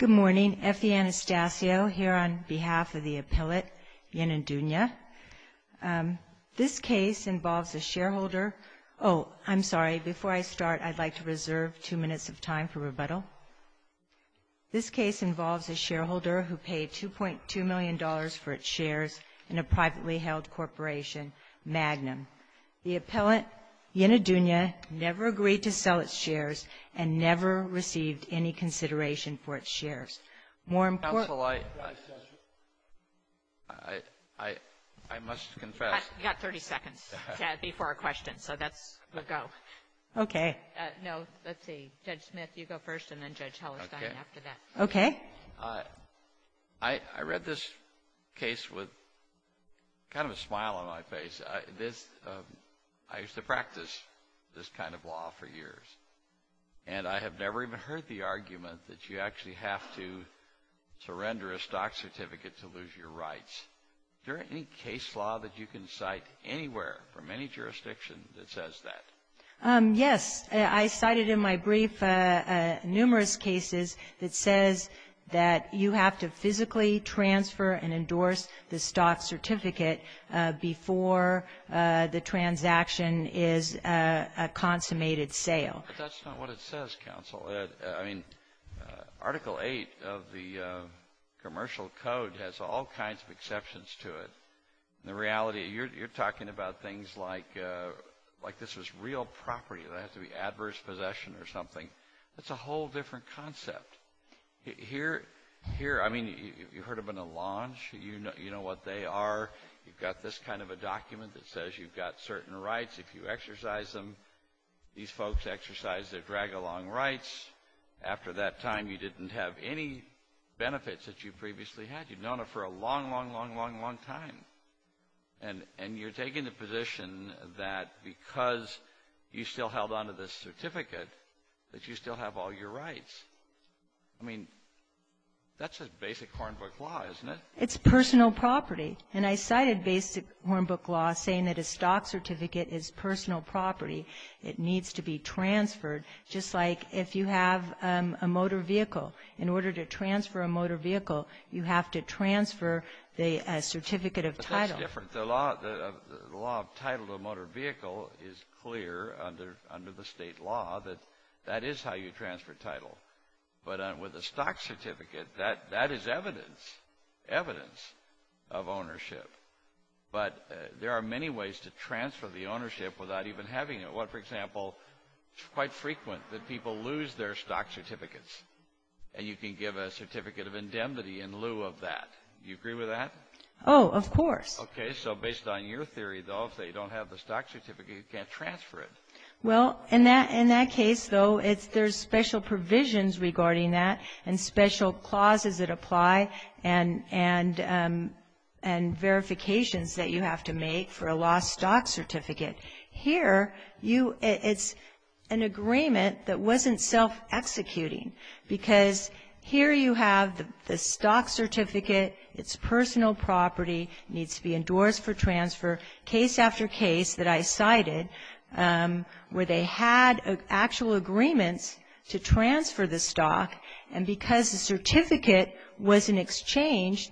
Good morning. Effie Anastasio here on behalf of the appellate Yenidunya. This case involves a shareholder who paid $2.2 million for its shares in a privately held corporation, Magnum. The appellate Yenidunya never agreed to sell its shares and never received any consideration for its shares. More importantly, I must confess. You've got 30 seconds, Chad, before our question, so that's a go. Okay. No, let's see. Judge Smith, you go first, and then Judge Hellestine after that. Okay. I read this case with kind of a smile on my face. I used to practice this kind of law for years, and I have never even heard the argument that you actually have to surrender a stock certificate to lose your rights. Is there any case law that you can cite anywhere from any jurisdiction that says that? Yes. I cited in my brief numerous cases that says that you have to physically transfer and endorse the stock certificate before the transaction is a consummated sale. But that's not what it says, counsel. I mean, Article VIII of the Commercial Code has all kinds of exceptions to it. In reality, you're talking about things like this was real property. It doesn't have to be adverse possession or something. That's a whole different concept. Here, I mean, you heard about a launch. You know what they are. You've got this kind of a document that says you've got certain rights. If you exercise them, these folks exercise their drag-along rights. After that time, you didn't have any benefits that you previously had. You've known it for a long, long, long, long, long time. And you're taking the position that because you still held on to this certificate that you still have all your rights. I mean, that's a basic Hornbook law, isn't it? It's personal property. And I cited basic Hornbook law saying that a stock certificate is personal property. It needs to be transferred. Just like if you have a motor vehicle, in order to transfer a motor vehicle, you have to transfer the certificate of title. But that's different. The law of title to a motor vehicle is clear under the state law that that is how you transfer title. But with a stock certificate, that is evidence, evidence of ownership. But there are many ways to transfer the ownership without even having it. For example, it's quite frequent that people lose their stock certificates, and you can give a certificate of indemnity in lieu of that. Do you agree with that? Oh, of course. Okay. So based on your theory, though, if they don't have the stock certificate, you can't transfer it. Well, in that case, though, there's special provisions regarding that and special clauses that apply and verifications that you have to make for a lost stock certificate. Here, it's an agreement that wasn't self-executing, because here you have the stock certificate. It's personal property. It needs to be endorsed for transfer. Case after case that I cited where they had actual agreements to transfer the stock, and because the certificate wasn't exchanged,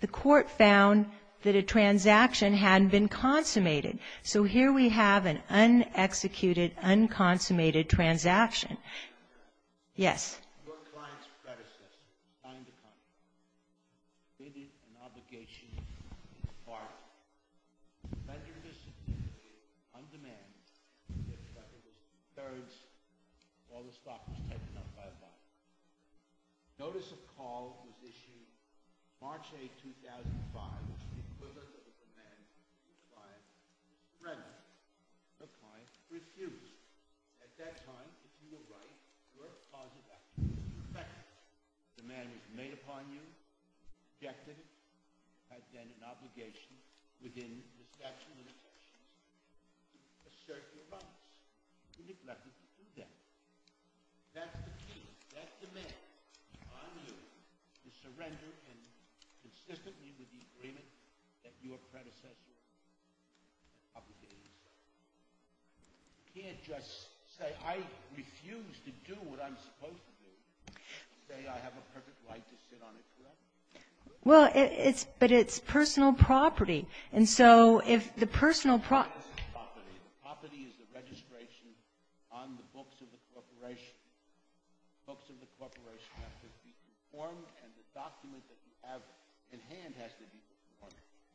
the court found that a transaction hadn't been consummated. So here we have an un-executed, un-consummated transaction. Yes? Your client's predecessor, a client of mine, pleaded an obligation to his partner to render this certificate on demand and give the records to his parents while the stock was taken up by a buyer. Notice of call was issued March 8, 2005. It was equivalent of a demand from your client to render. Your client refused. At that time, if you were right, you were a cause of action. In fact, the man was made upon you, objected, has then an obligation within the statute of limitations to assert your promise. He neglected to do that. That's the key. That's the man upon you to surrender and consistently with the agreement that your predecessor obligated his partner. You can't just say, I refuse to do what I'm supposed to do, and say I have a perfect right to sit on it, correct? Well, it's — but it's personal property. And so if the personal property — The books of the corporation have to be conformed, and the document that you have in hand has to be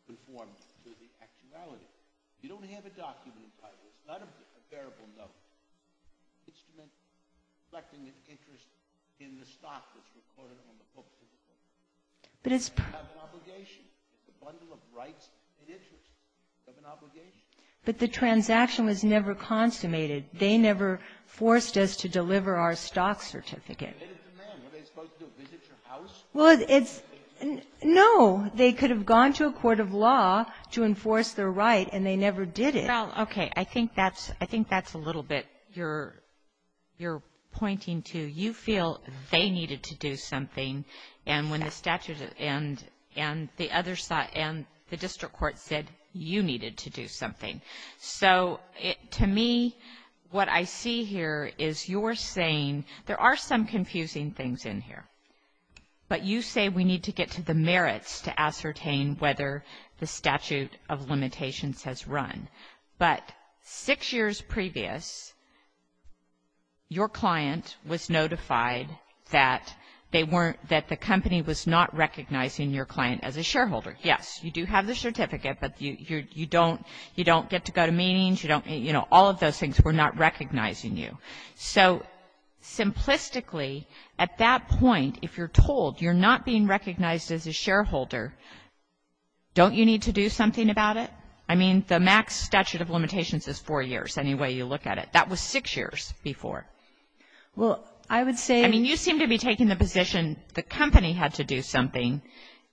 conformed to the actuality. You don't have a document in private. It's not a bearable note. It's an instrument reflecting an interest in the stock that's recorded on the book. But it's — You have an obligation. It's a bundle of rights and interests. You have an obligation. But the transaction was never consummated. They never forced us to deliver our stock certificate. They did it to them. What are they supposed to do, visit your house? Well, it's — no. They could have gone to a court of law to enforce their right, and they never did it. Well, okay. I think that's — I think that's a little bit you're pointing to. You feel they needed to do something, and when the statute and the other side and the district court said you needed to do something. So, to me, what I see here is you're saying there are some confusing things in here, but you say we need to get to the merits to ascertain whether the statute of limitations has run. But six years previous, your client was notified that they weren't — that the company was not recognizing your client as a shareholder. Yes, you do have the certificate, but you don't get to go to meetings. You don't — you know, all of those things were not recognizing you. So, simplistically, at that point, if you're told you're not being recognized as a shareholder, don't you need to do something about it? I mean, the max statute of limitations is four years, any way you look at it. That was six years before. Well, I would say — I mean, you seem to be taking the position the company had to do something.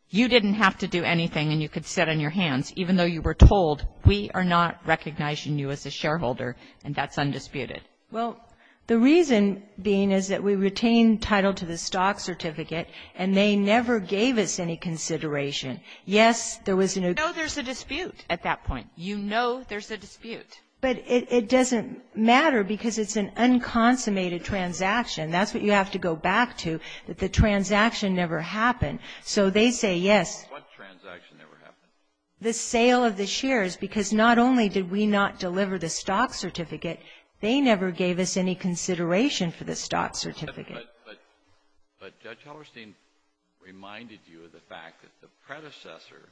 You didn't have to do anything, and you could sit on your hands, even though you were told, we are not recognizing you as a shareholder, and that's undisputed. Well, the reason being is that we retained title to the stock certificate, and they never gave us any consideration. Yes, there was an — You know there's a dispute at that point. You know there's a dispute. But it doesn't matter because it's an unconsummated transaction. That's what you have to go back to, that the transaction never happened. So they say yes. What transaction never happened? The sale of the shares, because not only did we not deliver the stock certificate, they never gave us any consideration for the stock certificate. But Judge Hellerstein reminded you of the fact that the predecessor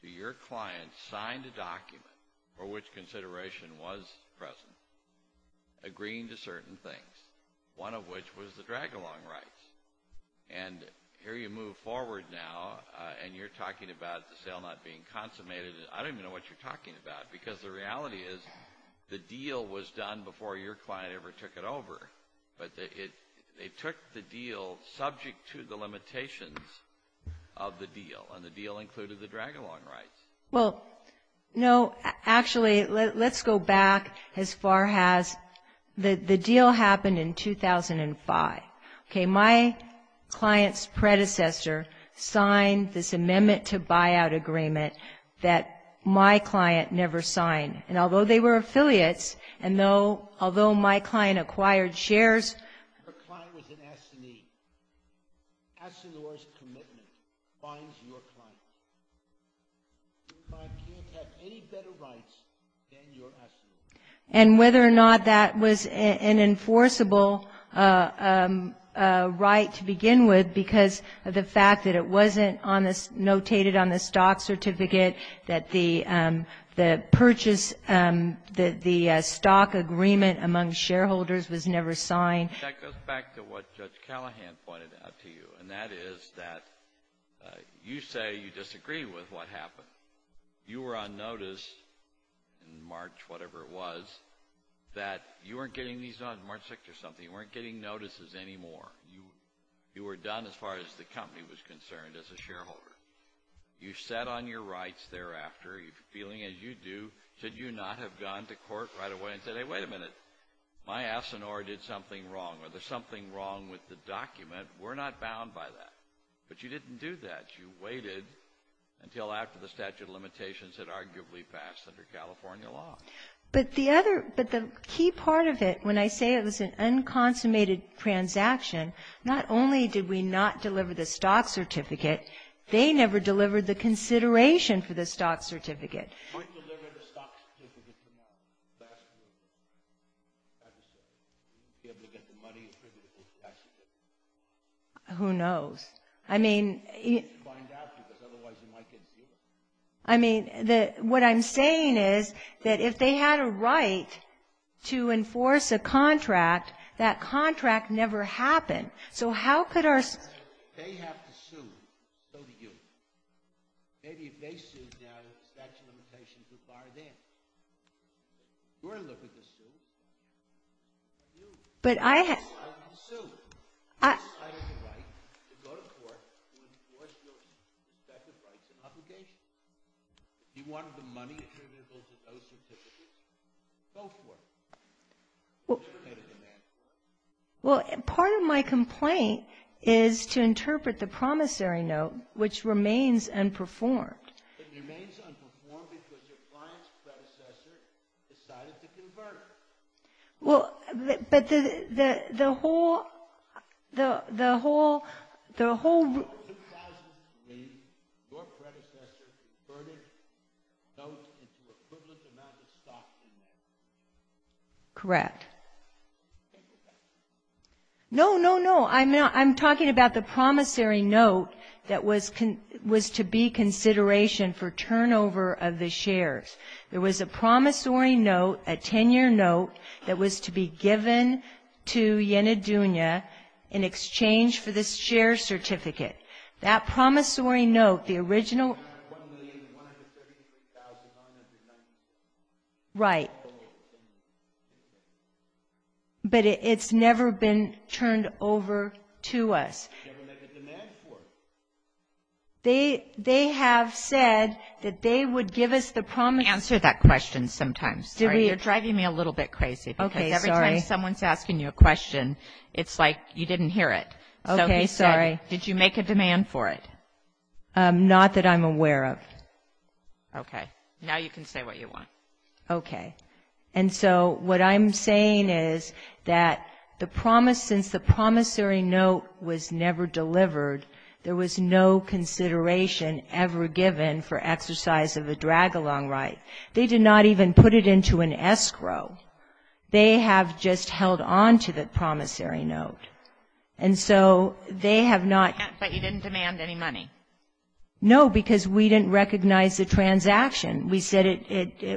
to your client signed a document for which consideration was present, agreeing to certain things, one of which was the drag-along rights. And here you move forward now, and you're talking about the sale not being consummated. I don't even know what you're talking about, because the reality is the deal was done before your client ever took it over. But they took the deal subject to the limitations of the deal, and the deal included the drag-along rights. Well, no, actually, let's go back as far as the deal happened in 2005. Okay, my client's predecessor signed this amendment to buyout agreement that my client never signed. And although they were affiliates, and although my client acquired shares. Her client was an assignee. Assignor's commitment binds your client. Your client can't have any better rights than your assignee. And whether or not that was an enforceable right to begin with, because of the fact that it wasn't notated on the stock certificate, that the purchase, that the stock agreement among shareholders was never signed. That goes back to what Judge Callahan pointed out to you, and that is that you say you disagree with what happened. You were on notice in March, whatever it was, that you weren't getting these on March 6th or something. You weren't getting notices anymore. You were done as far as the company was concerned as a shareholder. You set on your rights thereafter, feeling as you do, should you not have gone to court right away and said, hey, wait a minute. My assignor did something wrong, or there's something wrong with the document. We're not bound by that. But you didn't do that. You waited until after the statute of limitations had arguably passed under California law. But the other, but the key part of it, when I say it was an unconsummated transaction, not only did we not deliver the stock certificate, they never delivered the consideration for the stock certificate. Who delivered the stock certificate last year? I just don't know. Were you able to get the money for the certificate? Who knows? I mean, I mean, what I'm saying is that if they had a right to enforce a contract, that contract never happened. So how could our. They have to sue. So do you. Maybe if they sued now, the statute of limitations would bar them. You're going to look at the suit. You. You're going to look at the suit. You have the right to go to court to enforce your respective rights and obligations. If you wanted the money attributable to those certificates, go for it. You should have made a demand for it. Well, part of my complaint is to interpret the promissory note, which remains unperformed. It remains unperformed because your client's predecessor decided to convert it. Well, but the whole. The whole. The whole. In 2003, your predecessor converted notes into equivalent amounts of stock. Correct. No, no, no. I'm talking about the promissory note that was to be consideration for turnover of the shares. There was a promissory note, a 10-year note, that was to be given to Yenidunya in exchange for this share certificate. That promissory note, the original. $1,133,996. Right. But it's never been turned over to us. Never made a demand for it. They have said that they would give us the promissory. Answer that question sometimes. Sorry, you're driving me a little bit crazy. Okay, sorry. Because every time someone's asking you a question, it's like you didn't hear it. Okay, sorry. So he said, did you make a demand for it? Not that I'm aware of. Okay. Now you can say what you want. Okay. And so what I'm saying is that the promise, since the promissory note was never delivered, there was no consideration ever given for exercise of a drag-along right. They did not even put it into an escrow. They have just held on to the promissory note. And so they have not. But you didn't demand any money. No, because we didn't recognize the transaction. We said it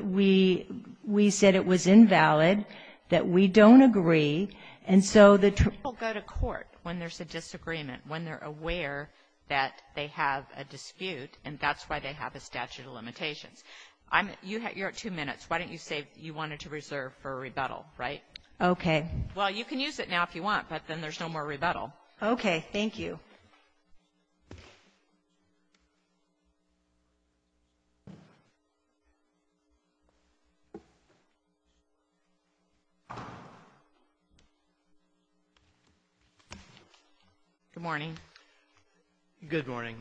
was invalid, that we don't agree. And so the truth. People go to court when there's a disagreement, when they're aware that they have a dispute, and that's why they have a statute of limitations. You're at two minutes. Why don't you say you wanted to reserve for a rebuttal, right? Okay. Well, you can use it now if you want, but then there's no more rebuttal. Okay. Thank you. Good morning. Good morning.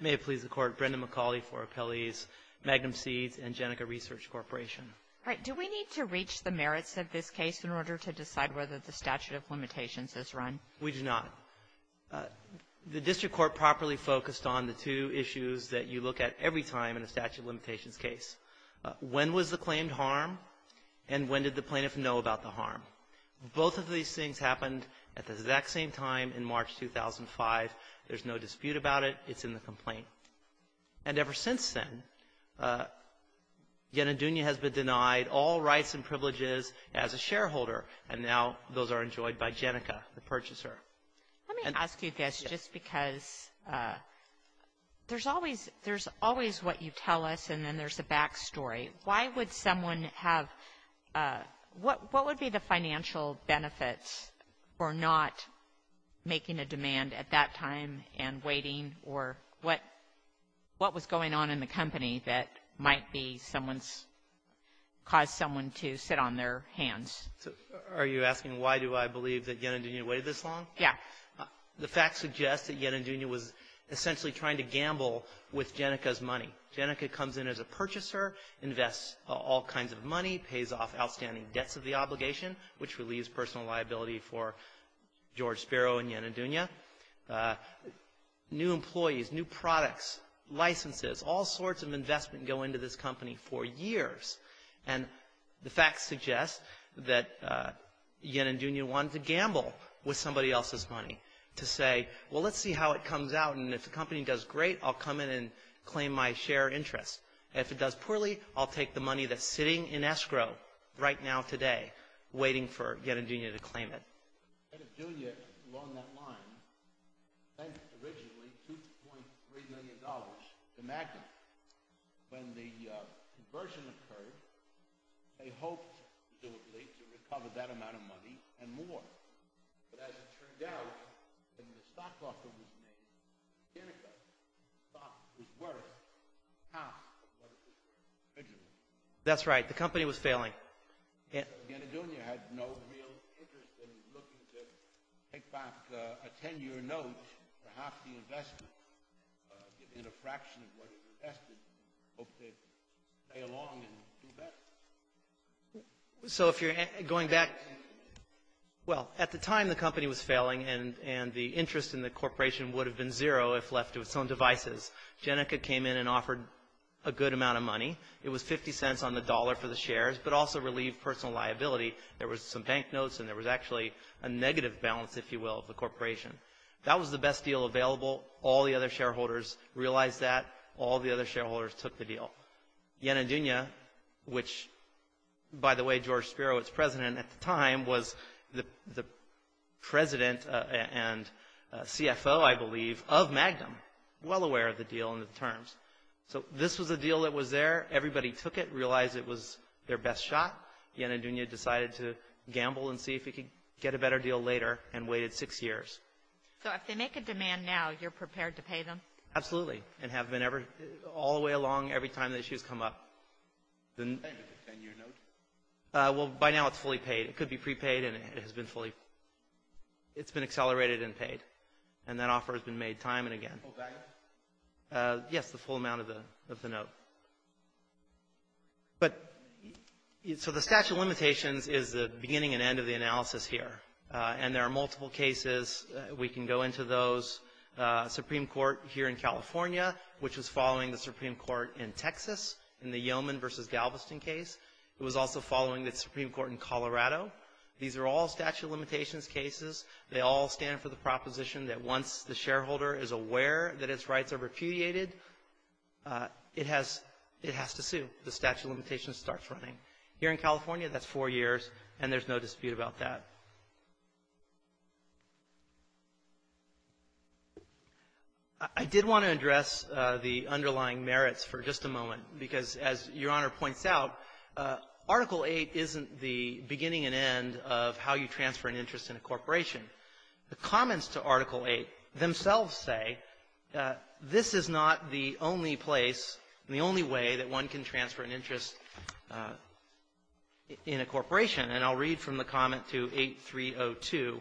May it please the Court, Brendan McCauley for Appellees, Magnum Seeds, and Jenica Research Corporation. All right. Do we need to reach the merits of this case in order to decide whether the statute of limitations is run? We do not. The district court properly focused on the two issues that you look at every time in a statute of limitations case. When was the claimed harm, and when did the plaintiff know about the harm? Both of these things happened at the exact same time in March 2005. There's no dispute about it. It's in the complaint. And ever since then, Yenadunya has been denied all rights and privileges as a shareholder, and now those are enjoyed by Jenica, the purchaser. Let me ask you this, just because there's always what you tell us, and then there's a back story. Why would someone have – what would be the financial benefits for not making a demand at that time and waiting, or what was going on in the company that might be someone's – Are you asking why do I believe that Yenadunya waited this long? Yeah. The facts suggest that Yenadunya was essentially trying to gamble with Jenica's money. Jenica comes in as a purchaser, invests all kinds of money, pays off outstanding debts of the obligation, which relieves personal liability for George Sparrow and Yenadunya. New employees, new products, licenses, all sorts of investment go into this company for years. And the facts suggest that Yenadunya wanted to gamble with somebody else's money to say, well, let's see how it comes out, and if the company does great, I'll come in and claim my share interest. And if it does poorly, I'll take the money that's sitting in escrow right now today, waiting for Yenadunya to claim it. Yenadunya along that line spent originally $2.3 million, the magnitude. When the conversion occurred, they hoped to recover that amount of money and more. But as it turned out, when the stock offer was made, Jenica thought it was worth half of what it was originally. That's right. The company was failing. And so Yenadunya had no real interest in looking to take back a 10-year note for half the investment in a fraction of what it invested, and hoped to stay along and do better. So if you're going back – Well, at the time, the company was failing, and the interest in the corporation would have been zero if left to its own devices. Jenica came in and offered a good amount of money. It was 50 cents on the dollar for the shares, but also relieved personal liability. There was some bank notes, and there was actually a negative balance, if you will, of the corporation. That was the best deal available. All the other shareholders realized that. All the other shareholders took the deal. Yenadunya, which, by the way, George Spiro, its president at the time, was the president and CFO, I believe, of Magnum, well aware of the deal and the terms. So this was a deal that was there. Everybody took it, realized it was their best shot. Yenadunya decided to gamble and see if it could get a better deal later, and waited six years. So if they make a demand now, you're prepared to pay them? Absolutely, and have been all the way along, every time the issues come up. Is that a 10-year note? Well, by now it's fully paid. It could be prepaid, and it has been fully – it's been accelerated and paid. And that offer has been made time and again. Full value? Yes, the full amount of the note. But – so the statute of limitations is the beginning and end of the analysis here. And there are multiple cases. We can go into those. Supreme Court here in California, which was following the Supreme Court in Texas, in the Yeoman v. Galveston case. It was also following the Supreme Court in Colorado. These are all statute of limitations cases. They all stand for the proposition that once the shareholder is aware that its rights are repudiated, it has to sue. The statute of limitations starts running. Here in California, that's four years, and there's no dispute about that. I did want to address the underlying merits for just a moment, because as Your Honor points out, Article VIII isn't the beginning and end of how you transfer an interest in a corporation. The comments to Article VIII themselves say this is not the only place and the only way that one can transfer an interest in a corporation. And I'll read from the comment to 8302,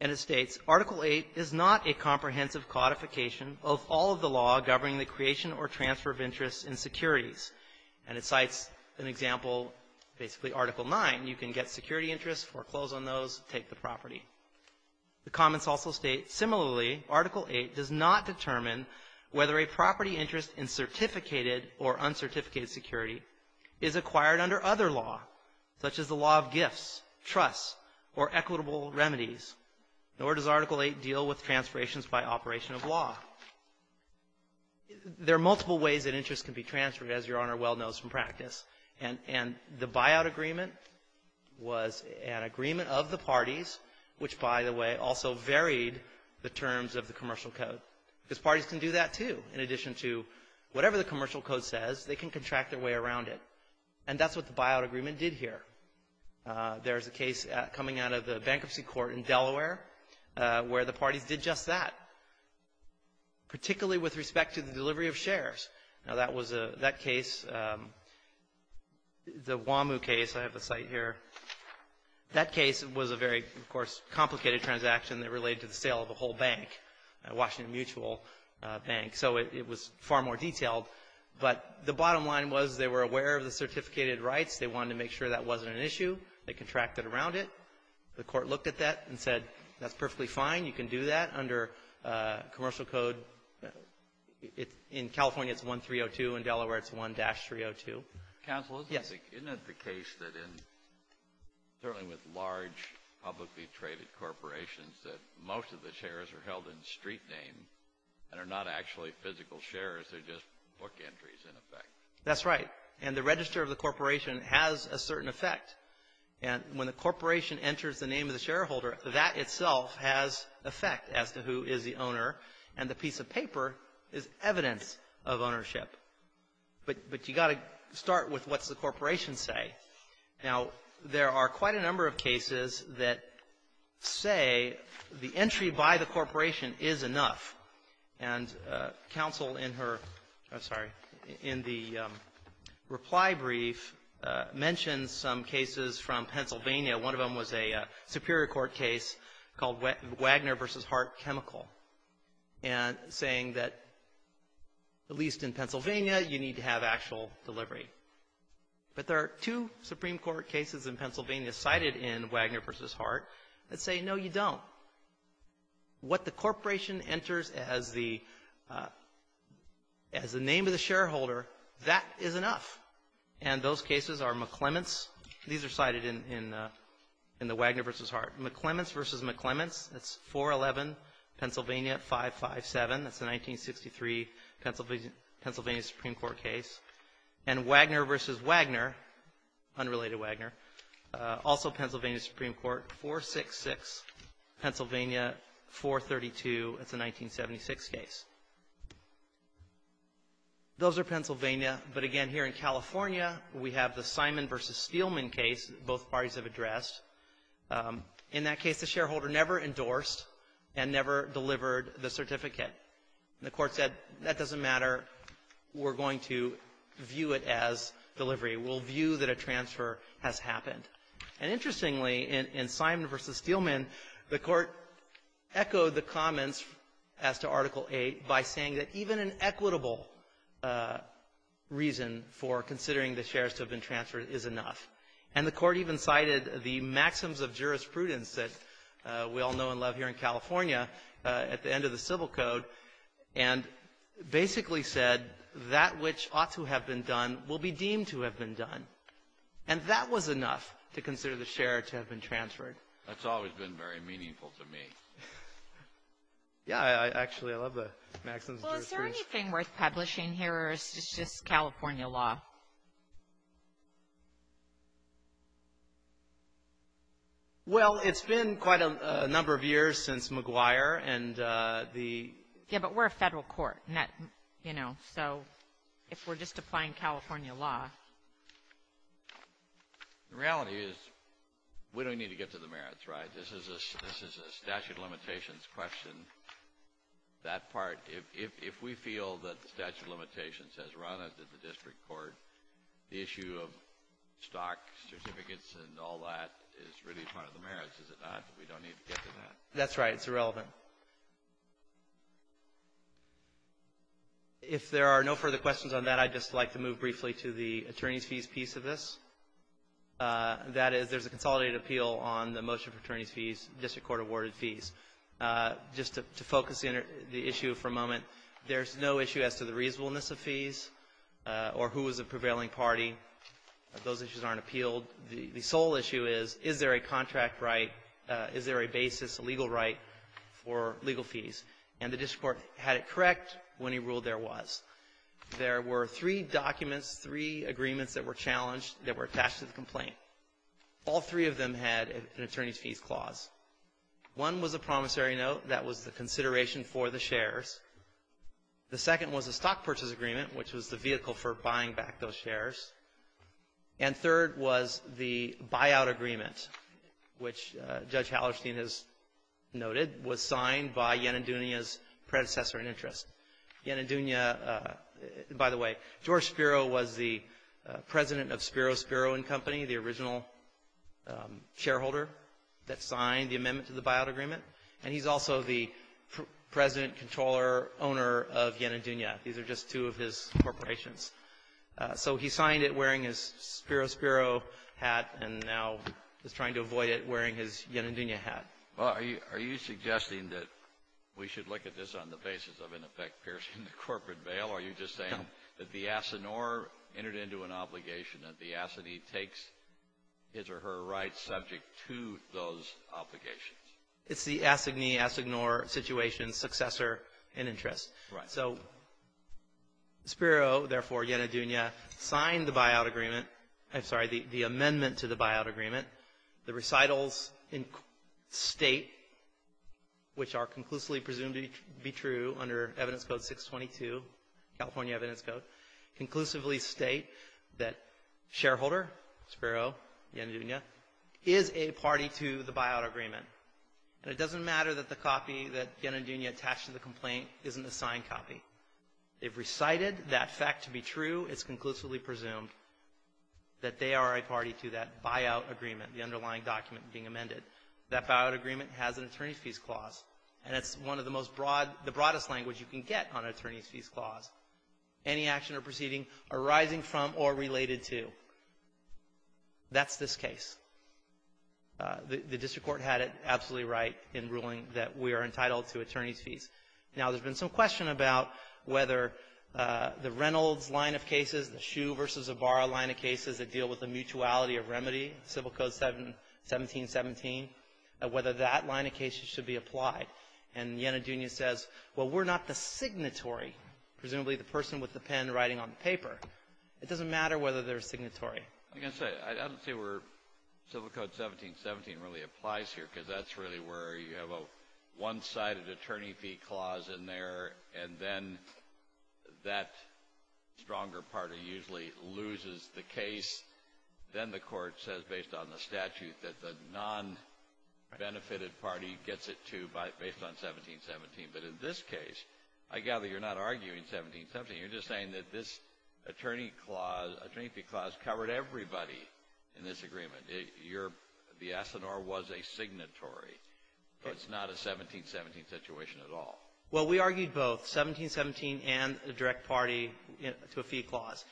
and it states, Article VIII is not a comprehensive codification of all of the law governing the creation or transfer of interest in securities. And it cites an example, basically Article IX. You can get security interests, foreclose on those, take the property. The comments also state, similarly, Article VIII does not determine whether a property interest in certificated or uncertificated security is acquired under other law, such as the law of gifts, trusts, or equitable remedies, nor does Article VIII deal with transferrations by operation of law. There are multiple ways that interest can be transferred, as Your Honor well knows from an agreement of the parties, which, by the way, also varied the terms of the commercial code. Because parties can do that, too, in addition to whatever the commercial code says, they can contract their way around it. And that's what the buyout agreement did here. There's a case coming out of the bankruptcy court in Delaware where the parties did just that, particularly with respect to the delivery of shares. Now, that case, the Wamu case, I have a cite here, that case was a very, of course, complicated transaction that related to the sale of a whole bank, Washington Mutual Bank. So it was far more detailed. But the bottom line was they were aware of the certificated rights. They wanted to make sure that wasn't an issue. They contracted around it. The court looked at that and said, that's perfectly fine. You can do that under commercial code. In California, it's 1302. In Delaware, it's 1-302. Counsel, isn't it the case that in, certainly with large publicly traded corporations, that most of the shares are held in street name and are not actually physical shares? They're just book entries, in effect. That's right. And the register of the corporation has a certain effect. And when the corporation enters the name of the shareholder, that itself has effect as to who is the owner. And the piece of paper is evidence of ownership. But you've got to start with what's the corporation say. Now, there are quite a number of cases that say the entry by the corporation is enough. And counsel in her, I'm sorry, in the reply brief mentioned some cases from Pennsylvania. One of them was a Superior Court case called Wagner v. Hart Chemical, saying that at least in Pennsylvania, you need to have actual delivery. But there are two Supreme Court cases in Pennsylvania cited in Wagner v. Hart that say, no, you don't. What the corporation enters as the name of the shareholder, that is enough. And those cases are McClements. These are cited in the Wagner v. Hart. McClements v. McClements, that's 411 Pennsylvania 557. That's a 1963 Pennsylvania Supreme Court case. And Wagner v. Wagner, unrelated Wagner, also Pennsylvania Supreme Court, 466 Pennsylvania 432. That's a 1976 case. Those are Pennsylvania. But again, here in California, we have the Simon v. Steelman case. Both parties have addressed. In that case, the shareholder never endorsed and never delivered the certificate. And the Court said, that doesn't matter. We're going to view it as delivery. We'll view that a transfer has happened. And interestingly, in Simon v. Steelman, the Court echoed the comments as to Article 8 by saying that even an equitable reason for considering the shares to have been transferred is enough. And the Court even cited the maxims of jurisprudence that we all know and love here in California at the end of the Civil Code and basically said that which ought to have been done will be deemed to have been done. And that was enough to consider the share to have been transferred. Kennedy. That's always been very meaningful to me. Yeah, actually, I love the maxims of jurisprudence. Well, is there anything worth publishing here or is this just California law? Well, it's been quite a number of years since McGuire and the — Yeah, but we're a federal court, you know, so if we're just applying California law. The reality is we don't need to get to the merits, right? This is a statute of limitations question, that part. If we feel that the statute of limitations has run us in the district court, the issue of stock certificates and all that is really part of the merits, is it not that we don't need to get to that? That's right. It's irrelevant. If there are no further questions on that, I'd just like to move briefly to the attorney's fees piece of this. That is, there's a consolidated appeal on the motion for attorney's fees, district court-awarded fees. Just to focus in the issue for a moment, there's no issue as to the reasonableness of fees or who is a prevailing party. Those issues aren't appealed. The sole issue is, is there a contract right, is there a basis, a legal right for legal fees? And the district court had it correct when he ruled there was. There were three documents, three agreements that were challenged that were attached to the complaint. All three of them had an attorney's fees clause. One was a promissory note that was the consideration for the shares. The second was a stock purchase agreement, which was the vehicle for buying back those shares. And third was the buyout agreement, which Judge Hallerstein has noted was signed by Yanandunya's predecessor in interest. Yanandunya, by the way, George Spiro was the president of Spiro Spiro and Company, the original shareholder that signed the amendment to the buyout agreement. And he's also the president, controller, owner of Yanandunya. These are just two of his corporations. So he signed it wearing his Spiro Spiro hat and now is trying to avoid it wearing his Yanandunya hat. Well, are you suggesting that we should look at this on the basis of, in effect, piercing the corporate veil? Are you just saying that the assignor entered into an obligation that the assignee takes his or her rights subject to those obligations? It's the assignee-assignor situation's successor in interest. Right. So Spiro, therefore, Yanandunya, signed the buyout agreement. I'm sorry, the amendment to the buyout agreement. The recitals state, which are conclusively presumed to be true under Evidence Code 622, California Evidence Code, conclusively state that shareholder, Spiro, Yanandunya, is a party to the buyout agreement. And it doesn't matter that the copy that Yanandunya attached to the complaint isn't a signed copy. They've recited that fact to be true. It's conclusively presumed that they are a party to that buyout agreement, the underlying document being amended. That buyout agreement has an attorney's fees clause, and it's one of the most broad the broadest language you can get on an attorney's fees clause. Any action or proceeding arising from or related to, that's this case. The district court had it absolutely right in ruling that we are entitled to attorney's fees. Now, there's been some question about whether the Reynolds line of cases, the Shue v. Zavara line of cases that deal with the mutuality of remedy, Civil Code 1717, whether that line of cases should be applied. And Yanandunya says, well, we're not the signatory, presumably the person with the pen writing on the paper. It doesn't matter whether they're signatory. I'm going to say, I don't see where Civil Code 1717 really applies here, because that's really where you have a one-sided attorney fee clause in there, and then that stronger party usually loses the case. Then the court says, based on the statute, that the non-benefited party gets it to based on 1717. But in this case, I gather you're not arguing 1717. You're just saying that this attorney clause, attorney fee clause, covered everybody in this agreement. You're the S&R was a signatory, but it's not a 1717 situation at all. Well, we argued both, 1717 and the direct party to a fee clause.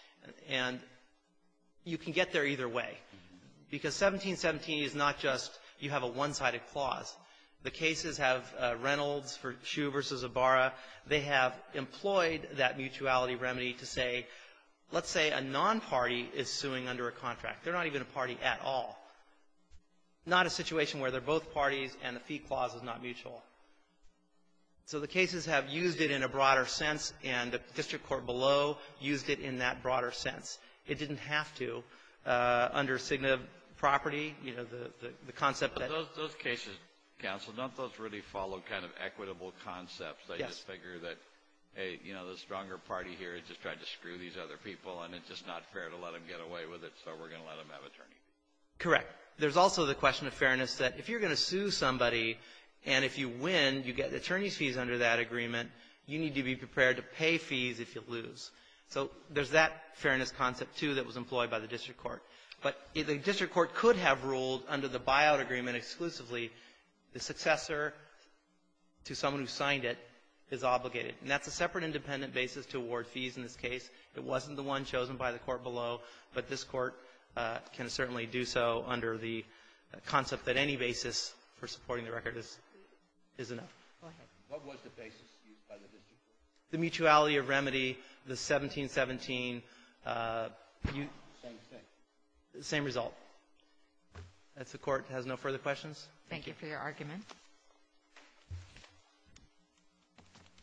And you can get there either way, because 1717 is not just you have a one-sided clause. The cases have Reynolds for Shue v. Zavara. They have employed that mutuality remedy to say, let's say a non-party is suing under a contract. They're not even a party at all. Not a situation where they're both parties and the fee clause is not mutual. So the cases have used it in a broader sense, and the district court below used it in that broader sense. It didn't have to. Under signative property, you know, the concept that — Those cases, counsel, don't those really follow kind of equitable concepts? Yes. They just figure that, hey, you know, the stronger party here just tried to screw these other people, and it's just not fair to let them get away with it, so we're going to let them have attorneys. Correct. There's also the question of fairness, that if you're going to sue somebody, and if you win, you get the attorney's fees under that agreement, you need to be prepared to pay fees if you lose. So there's that fairness concept, too, that was employed by the district court. But the district court could have ruled under the buyout agreement exclusively the successor to someone who signed it is obligated. And that's a separate independent basis to award fees in this case. It wasn't the one chosen by the court below, but this Court can certainly do so under the concept that any basis for supporting the record is enough. Go ahead. What was the basis used by the district court? The mutuality of remedy, the 1717. Same thing. Same result. If the Court has no further questions. Thank you for your argument. Thank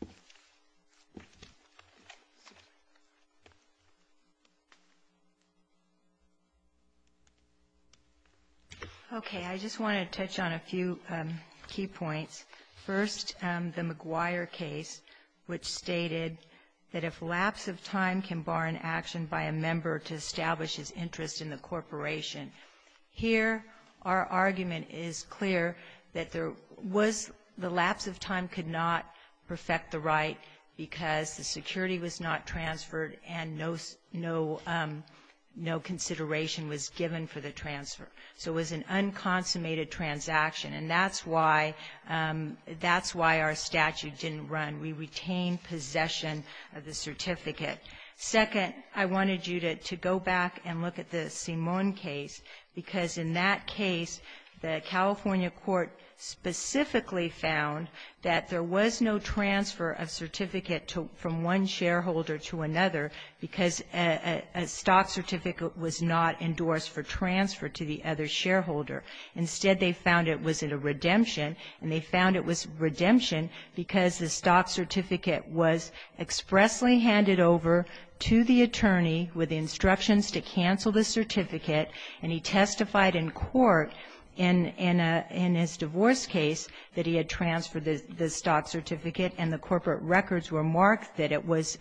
you. Okay. I just want to touch on a few key points. First, the McGuire case, which stated that if lapse of time can bar an action by a member to establish his interest in the corporation. Here, our argument is clear that there was the lapse of time could not perfect the right because the security was not transferred and no consideration was given for the transfer. So it was an unconsummated transaction. And that's why our statute didn't run. We retained possession of the certificate. Second, I wanted you to go back and look at the Simon case, because in that case, the California court specifically found that there was no transfer of certificate from one shareholder to another because a stock certificate was not endorsed for transfer to the other shareholder. Instead, they found it was a redemption, and they found it was redemption because the stock certificate was expressly handed over to the attorney with instructions to cancel the certificate, and he testified in court in his divorce case that he had transferred the stock certificate and the corporate records were marked that it was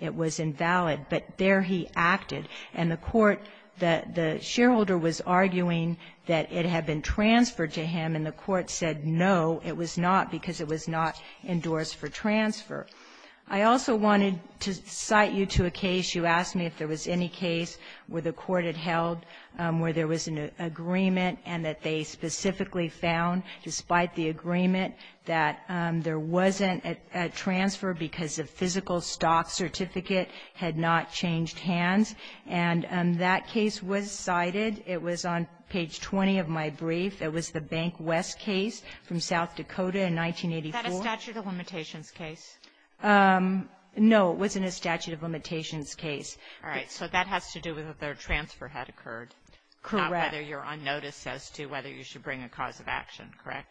invalid, but there he acted. And the court, the shareholder was arguing that it had been transferred to him, and the court said no, it was not, because it was not endorsed for transfer. I also wanted to cite you to a case. You asked me if there was any case where the court had held where there was an agreement and that they specifically found, despite the agreement, that there wasn't a transfer because a physical stock certificate had not changed hands. And that case was cited. It was on page 20 of my brief. It was the Bank West case from South Dakota in 1984. Kagan. Is that a statute of limitations case? No. It wasn't a statute of limitations case. All right. So that has to do with if their transfer had occurred. Correct. Not whether you're on notice as to whether you should bring a cause of action. Correct?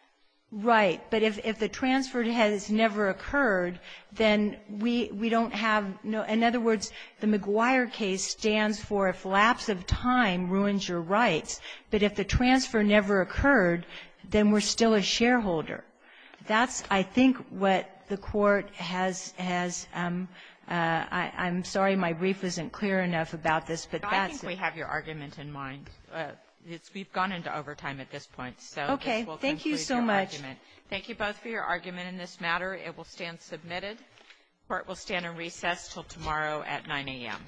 Right. But if the transfer has never occurred, then we don't have no other words. The McGuire case stands for if lapse of time ruins your rights. But if the transfer never occurred, then we're still a shareholder. That's, I think, what the Court has as — I'm sorry my brief isn't clear enough about this, but that's it. But I think we have your argument in mind. We've gone into overtime at this point, so this will conclude your argument. Okay. Thank you so much. Thank you both for your argument in this matter. It will stand submitted. The Court will stand in recess until tomorrow at 9 a.m.